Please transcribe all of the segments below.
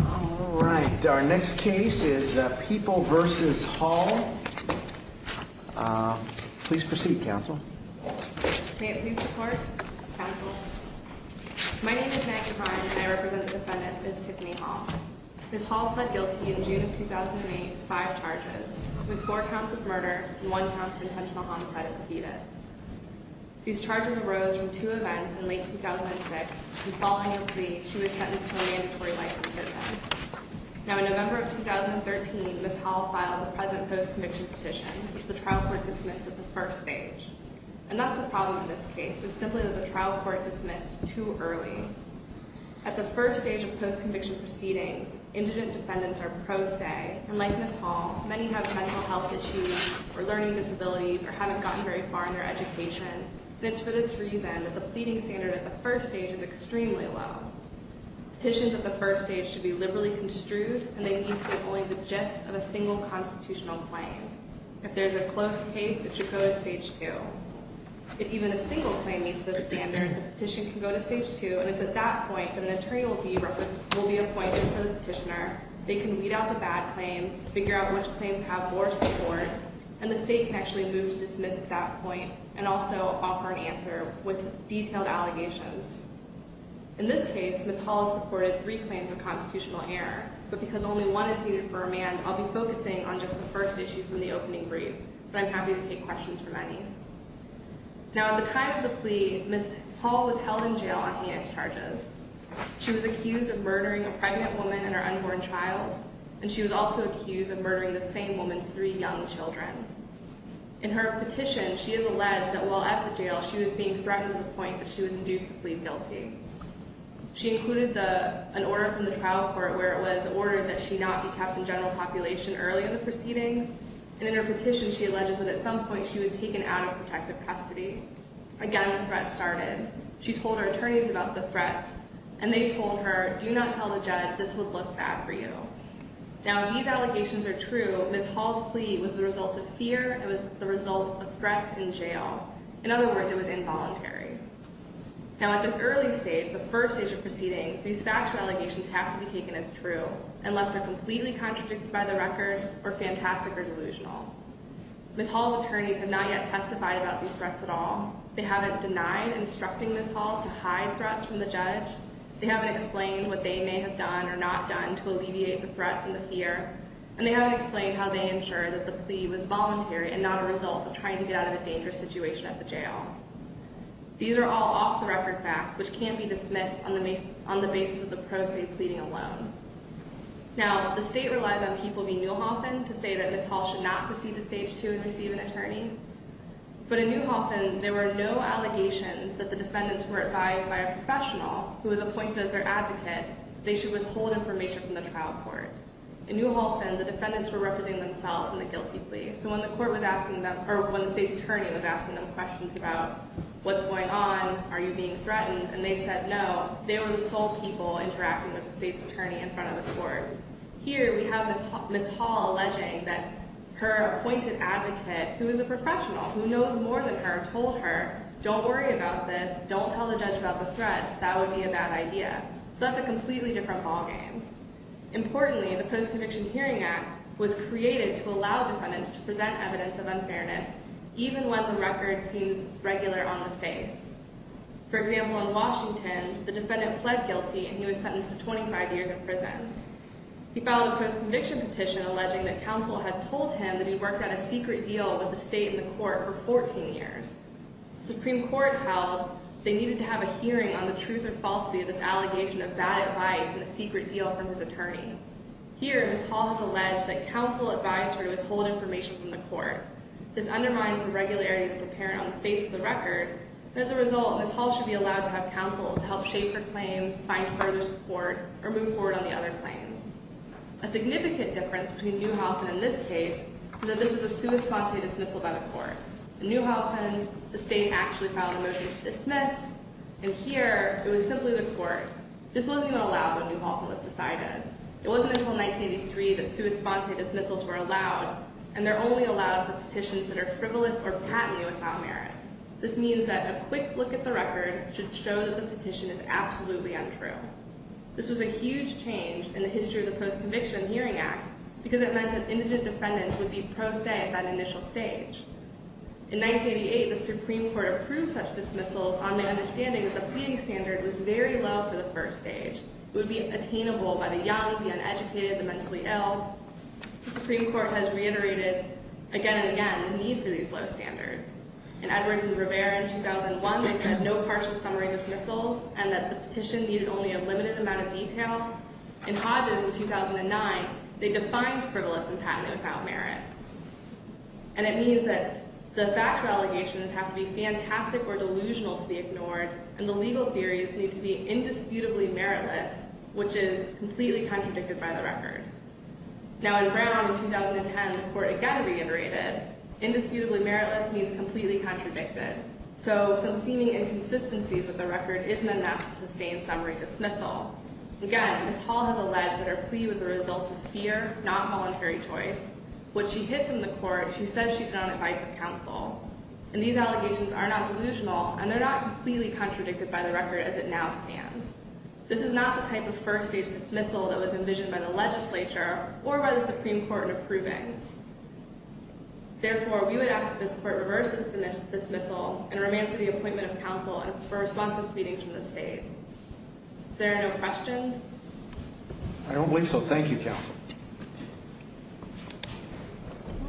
Alright, our next case is People v. Hall. Please proceed, Counsel. May it please the Court, Counsel. My name is Maggie Fine and I represent the defendant, Ms. Tiffany Hall. Ms. Hall pled guilty in June of 2008 to five charges. It was four counts of murder and one count of intentional homicide with a fetus. These charges arose from two events in late 2006. In following her plea, she was sentenced to a mandatory life in prison. Now, in November of 2013, Ms. Hall filed the present post-conviction petition, which the trial court dismissed at the first stage. And that's the problem in this case. It's simply that the trial court dismissed too early. At the first stage of post-conviction proceedings, indigent defendants are pro se. And like Ms. Hall, many have mental health issues or learning disabilities or haven't gotten very far in their education. And it's for this reason that the pleading standard at the first stage is extremely low. Petitions at the first stage should be liberally construed and they need to state only the gist of a single constitutional claim. If there's a close case, it should go to stage two. If even a single claim meets this standard, the petition can go to stage two and it's at that point that an attorney will be appointed for the petitioner. They can weed out the bad claims, figure out which claims have more support, and the state can actually move to dismiss at that point and also offer an answer with detailed allegations. In this case, Ms. Hall supported three claims of constitutional error. But because only one is needed for a man, I'll be focusing on just the first issue from the opening brief. But I'm happy to take questions from any. Now, at the time of the plea, Ms. Hall was held in jail on handicap charges. She was accused of murdering a pregnant woman and her unborn child. And she was also accused of murdering the same woman's three young children. In her petition, she has alleged that while at the jail, she was being threatened to the point that she was induced to plead guilty. She included an order from the trial court where it was ordered that she not be kept in general population early in the proceedings. And in her petition, she alleges that at some point, she was taken out of protective custody. Again, the threat started. She told her attorneys about the threats. And they told her, do not tell the judge. This would look bad for you. Now, these allegations are true. Ms. Hall's plea was the result of fear. It was the result of threats in jail. In other words, it was involuntary. Now, at this early stage, the first stage of proceedings, these factual allegations have to be taken as true, unless they're completely contradicted by the record or fantastic or delusional. Ms. Hall's attorneys have not yet testified about these threats at all. They haven't denied instructing Ms. Hall to hide threats from the judge. They haven't explained what they may have done or not done to alleviate the threats and the fear. And they haven't explained how they ensured that the plea was voluntary and not a result of trying to get out of a dangerous situation at the jail. These are all off-the-record facts, which can't be dismissed on the basis of the proceed pleading alone. Now, the state relies on people being Newhoffen to say that Ms. Hall should not proceed to stage 2 and receive an attorney. But in Newhoffen, there were no allegations that the defendants were advised by a professional, who was appointed as their advocate, they should withhold information from the trial court. In Newhoffen, the defendants were representing themselves in the guilty plea. So when the state's attorney was asking them questions about what's going on, are you being threatened, and they said no, they were the sole people interacting with the state's attorney in front of the court. Here, we have Ms. Hall alleging that her appointed advocate, who is a professional, who knows more than her, told her, don't worry about this, don't tell the judge about the threats, that would be a bad idea. So that's a completely different ballgame. Importantly, the Post-Conviction Hearing Act was created to allow defendants to present evidence of unfairness even when the record seems regular on the face. For example, in Washington, the defendant pled guilty and he was sentenced to 25 years in prison. He filed a post-conviction petition alleging that counsel had told him that he'd worked on a secret deal with the state and the court for 14 years. The Supreme Court held they needed to have a hearing on the truth or falsity of this allegation of bad advice and the secret deal from his attorney. Here, Ms. Hall has alleged that counsel advised her to withhold information from the court. This undermines the regularity that's apparent on the face of the record, and as a result, Ms. Hall should be allowed to have counsel to help shape her claim, find further support, or move forward on the other claims. A significant difference between Newhalton and this case is that this was a sua sante dismissal by the court. In Newhalton, the state actually filed a motion to dismiss, and here, it was simply the court. This wasn't even allowed when Newhalton was decided. It wasn't until 1983 that sua sante dismissals were allowed, and they're only allowed for petitions that are frivolous or patently without merit. This means that a quick look at the record should show that the petition is absolutely untrue. This was a huge change in the history of the Post-Conviction Hearing Act because it meant that indigent defendants would be pro se at that initial stage. In 1988, the Supreme Court approved such dismissals on the understanding that the pleading standard was very low for the first stage. It would be attainable by the young, the uneducated, the mentally ill. The Supreme Court has reiterated again and again the need for these low standards. In Edwards and Rivera in 2001, they said no partial summary dismissals and that the petition needed only a limited amount of detail. In Hodges in 2009, they defined frivolous and patently without merit. And it means that the factual allegations have to be fantastic or delusional to be ignored, and the legal theories need to be indisputably meritless, which is completely contradicted by the record. Now in Brown in 2010, the court again reiterated indisputably meritless means completely contradicted. So some seeming inconsistencies with the record isn't enough to sustain summary dismissal. Again, Ms. Hall has alleged that her plea was the result of fear, not voluntary choice. What she hid from the court, she says she did on advice of counsel. And these allegations are not delusional, and they're not completely contradicted by the record as it now stands. This is not the type of first-stage dismissal that was envisioned by the legislature or by the Supreme Court in approving. Therefore, we would ask that this court reverse this dismissal and remain for the appointment of counsel for responsive pleadings from the state. If there are no questions... I don't believe so. Thank you, counsel.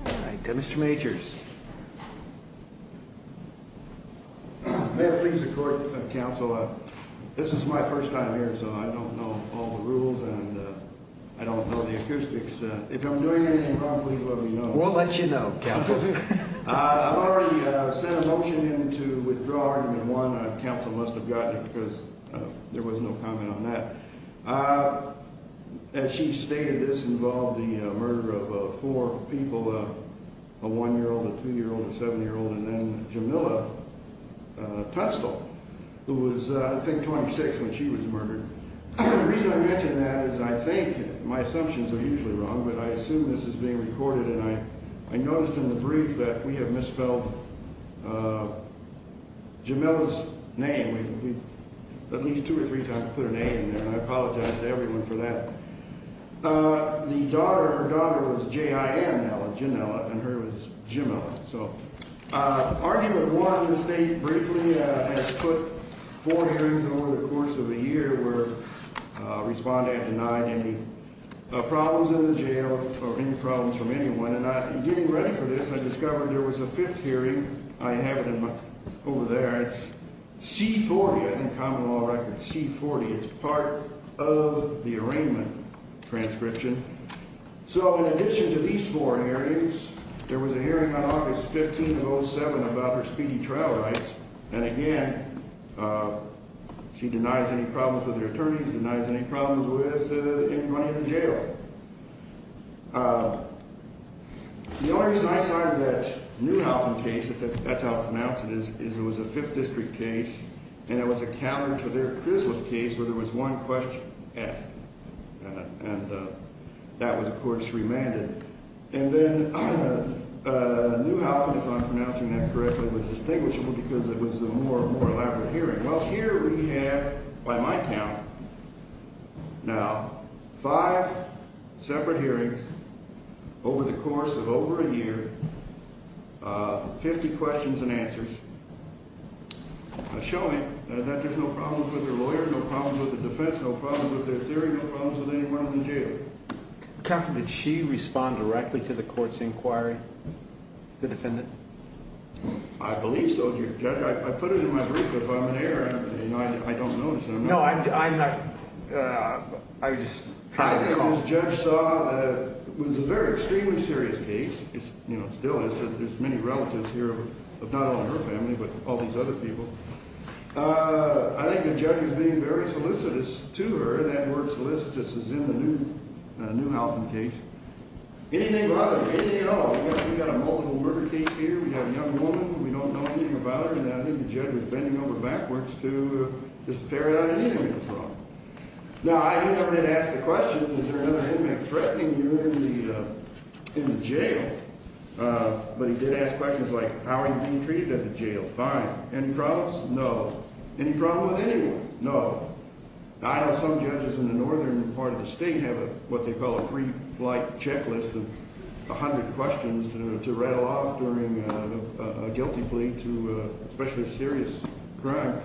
All right, Mr. Majors. May it please the court, counsel, this is my first time here, so I don't know all the rules, and I don't know the acoustics. If I'm doing anything wrong, please let me know. We'll let you know, counsel. I've already sent a motion in to withdraw argument one. Counsel must have gotten it because there was no comment on that. As she stated, this involved the murder of four people, a 1-year-old, a 2-year-old, a 7-year-old, and then Jamila Tustle, who was, I think, 26 when she was murdered. The reason I mention that is I think, and my assumptions are usually wrong, but I assume this is being recorded, and I noticed in the brief that we have misspelled Jamila's name. We've at least two or three times put her name in there, and I apologize to everyone for that. The daughter, her daughter was J-I-N, now Janella, and her was Jamila. Argument one, the state briefly has put four hearings over the course of a year where respondents have denied any problems in the jail or any problems from anyone, and in getting ready for this, I discovered there was a fifth hearing. I have it over there. It's C-40, I think, common law record, C-40. It's part of the arraignment transcription. So in addition to these four hearings, there was a hearing on August 15 of 07 about her speedy trial rights, and again, she denies any problems with her attorneys, denies any problems with anybody in the jail. The only reason I cited that Neuhaufen case, if that's how it's pronounced, is it was a Fifth District case, and it was a counter to their Chrysler case where there was one question, F, and that was, of course, remanded. And then Neuhaufen, if I'm pronouncing that correctly, was distinguishable because it was a more elaborate hearing. Well, here we have, by my count, now, five separate hearings over the course of over a year, 50 questions and answers showing that there's no problems with her lawyer, no problems with the defense, no problems with their theory, no problems with anyone in the jail. Counsel, did she respond directly to the court's inquiry, the defendant? I believe so, Judge. I put it in my brief. If I'm in error, I don't notice it. No, I'm not... I just... I think what the judge saw was a very extremely serious case. You know, still, there's many relatives here of not only her family but all these other people. I think the judge was being very solicitous to her. That word solicitous is in the Neuhaufen case. Anything but her. Anything at all. We've got a multiple murder case here. We have a young woman. We don't know anything about her. And I think the judge was bending over backwards to just ferret out anything that was wrong. Now, I didn't ask the question, is there another inmate threatening you in the jail? But he did ask questions like, how are you being treated at the jail? Fine. Any problems? No. Any problem with anyone? No. I know some judges in the northern part of the state have what they call a free flight checklist of 100 questions to rattle off during a guilty plea to especially a serious crime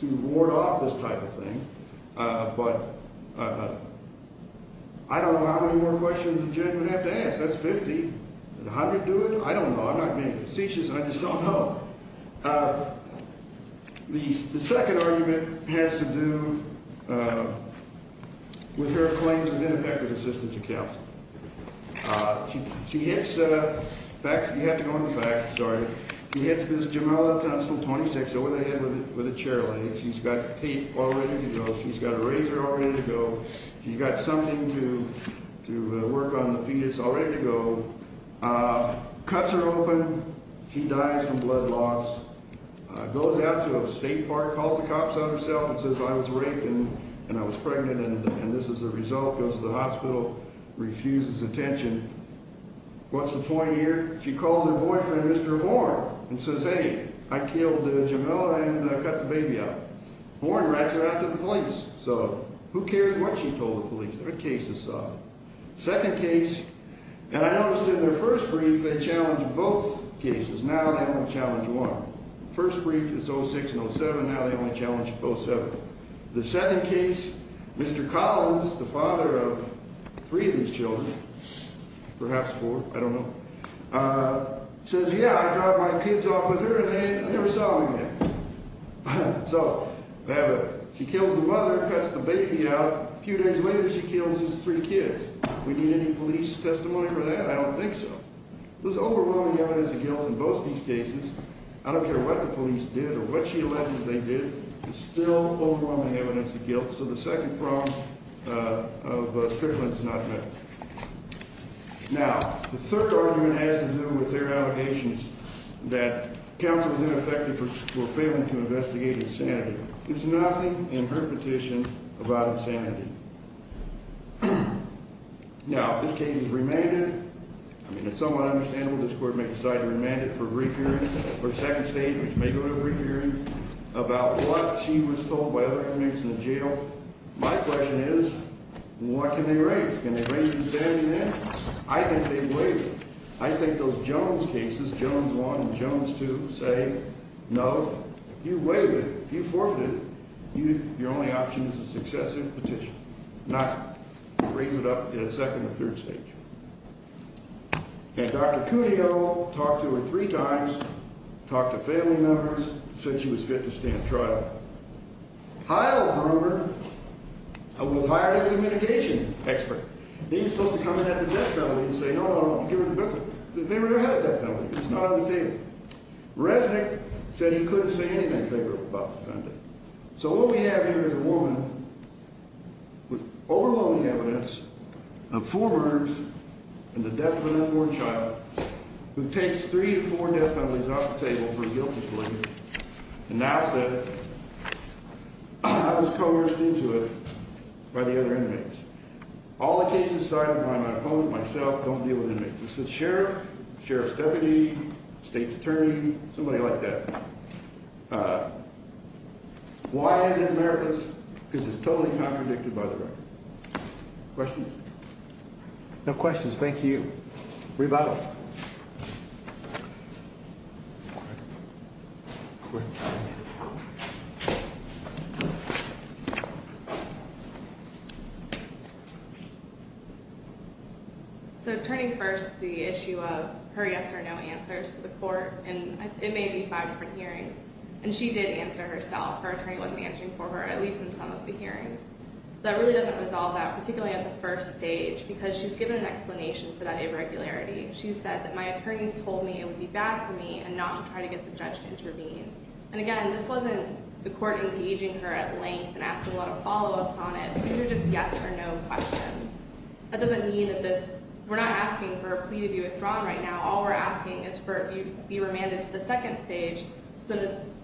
to ward off this type of thing. But I don't know how many more questions the judge would have to ask. That's 50. Does 100 do it? I don't know. I'm not being facetious. I just don't know. The second argument has to do with her claims of ineffective assistance to counsel. She hits back. You have to go in the back. Sorry. She hits this jameled constable 26 over the head with a chair leg. She's got tape all ready to go. She's got a razor all ready to go. She's got something to work on the fetus all ready to go. Cuts her open. She dies from blood loss. Goes out to a state park, calls the cops on herself and says, I was raped and I was pregnant and this is the result, goes to the hospital, refuses attention. What's the point here? She calls her boyfriend, Mr. Warren, and says, hey, I killed the jamele and I cut the baby up. Warren writes her out to the police. So who cares what she told the police? They're a case of some. Second case, and I noticed in their first brief they challenged both cases. Now they only challenge one. First brief is 06 and 07. Now they only challenge 07. The second case, Mr. Collins, the father of three of these children, perhaps four, I don't know, says, yeah, I drive my kids off with her and they never saw me again. So she kills the mother, cuts the baby out. A few days later, she kills his three kids. We need any police testimony for that? I don't think so. There's overwhelming evidence of guilt in both these cases. I don't care what the police did or what she alleged they did. There's still overwhelming evidence of guilt. So the second problem of Strickland is not met. Now, the third argument has to do with their allegations that counsel was ineffective for failing to investigate insanity. There's nothing in her petition about insanity. Now, this case is remanded. I mean, it's somewhat understandable this court may decide to remand it for a brief hearing or a second stage, which may go to a brief hearing, about what she was told by other convicts in the jail. My question is, what can they raise? Can they raise insanity then? I think they waive it. I think those Jones cases, Jones 1 and Jones 2, say no. You waive it. If you forfeit it, your only option is a successive petition, not raise it up in a second or third stage. And Dr. Cudjoe talked to her three times, talked to family members, said she was fit to stand trial. Heilbrunner was hired as a mitigation expert. He was supposed to come in at the death penalty and say, no, no, no, give her the benefit. They never had a death penalty. It was not on the table. Resnick said he couldn't say anything favorable about the defendant. So what we have here is a woman with overwhelming evidence of four murders and the death of an unborn child, who takes three to four death penalties off the table for a guilty plea, and now says, I was coerced into it by the other inmates. All the cases cited by my opponent, myself, don't deal with inmates. This was sheriff, sheriff's deputy, state's attorney, somebody like that. Why is it meritless? Because it's totally contradicted by the record. Questions? No questions. Thank you. Rebuttal. Quick. Quick. So turning first to the issue of her yes or no answers to the court, and it may be five different hearings, and she did answer herself. Her attorney wasn't answering for her, at least in some of the hearings. That really doesn't resolve that, particularly at the first stage, because she's given an explanation for that irregularity. She said that my attorneys told me it would be bad for me, and not to try to get the judge to intervene. And again, this wasn't the court engaging her at length and asking a lot of follow-ups on it. These are just yes or no questions. That doesn't mean that this, we're not asking for a plea to be withdrawn right now. All we're asking is for you to be remanded to the second stage so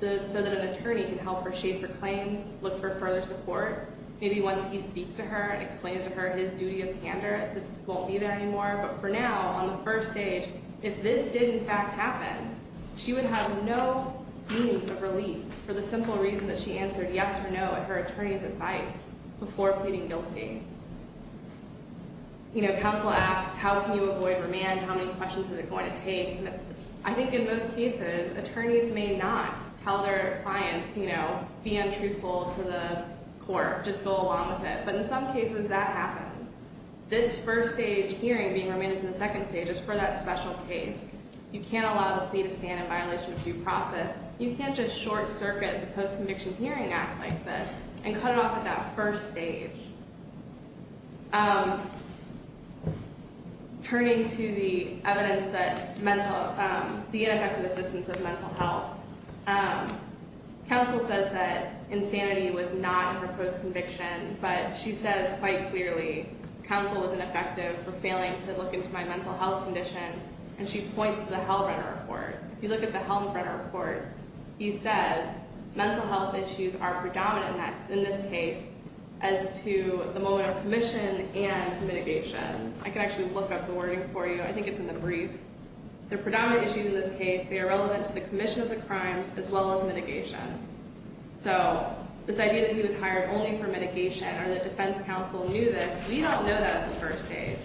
that an attorney can help her shape her claims, look for further support. Maybe once he speaks to her and explains to her his duty of candor, this won't be there anymore. But for now, on the first stage, if this did in fact happen, she would have no means of relief for the simple reason that she answered yes or no at her attorney's advice before pleading guilty. You know, counsel asks, how can you avoid remand? How many questions is it going to take? I think in most cases, attorneys may not tell their clients, you know, be untruthful to the court, just go along with it. But in some cases, that happens. This first stage hearing being remanded to the second stage is for that special case. You can't allow the plea to stand in violation of due process. You can't just short circuit the Post-Conviction Hearing Act like this and cut off at that first stage. Turning to the evidence that mental, the ineffective assistance of mental health, counsel says that insanity was not in her post-conviction. But she says quite clearly, counsel was ineffective for failing to look into my mental health condition. And she points to the Hellbrenner Report. If you look at the Hellbrenner Report, he says mental health issues are predominant in this case as to the moment of commission and mitigation. I can actually look up the wording for you. I think it's in the brief. They're predominant issues in this case. They are relevant to the commission of the crimes as well as mitigation. So this idea that he was hired only for mitigation or that defense counsel knew this, we don't know that at the first stage.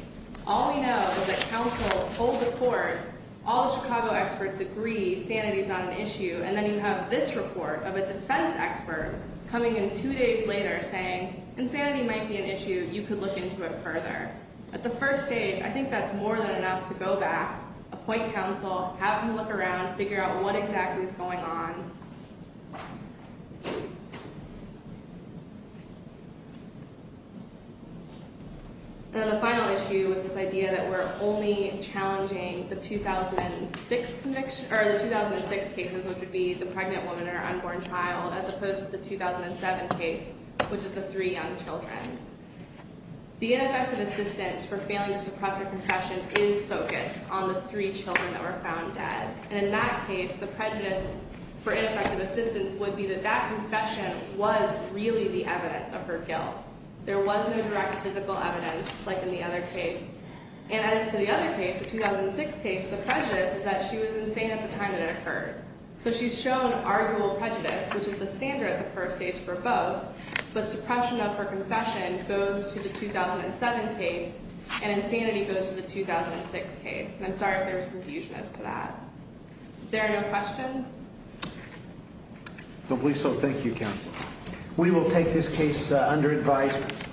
All we know is that counsel told the court, all the Chicago experts agree, sanity is not an issue. And then you have this report of a defense expert coming in two days later saying, insanity might be an issue. You could look into it further. At the first stage, I think that's more than enough to go back, appoint counsel, have him look around, figure out what exactly is going on. And then the final issue is this idea that we're only challenging the 2006 conviction, or the 2006 cases, which would be the pregnant woman and her unborn child, as opposed to the 2007 case, which is the three young children. The ineffective assistance for failing to suppress a concussion is focused on the three children that were found dead. And in that case, the prejudice for ineffective assistance would be that that confession was really the evidence of her guilt. There was no direct physical evidence, like in the other case. And as to the other case, the 2006 case, the prejudice is that she was insane at the time that it occurred. So she's shown arguable prejudice, which is the standard at the first stage for both. But suppression of her confession goes to the 2007 case, and insanity goes to the 2006 case. And I'm sorry if there was confusion as to that. There are no questions? I don't believe so. Thank you, Counsel. We will take this case under advisement.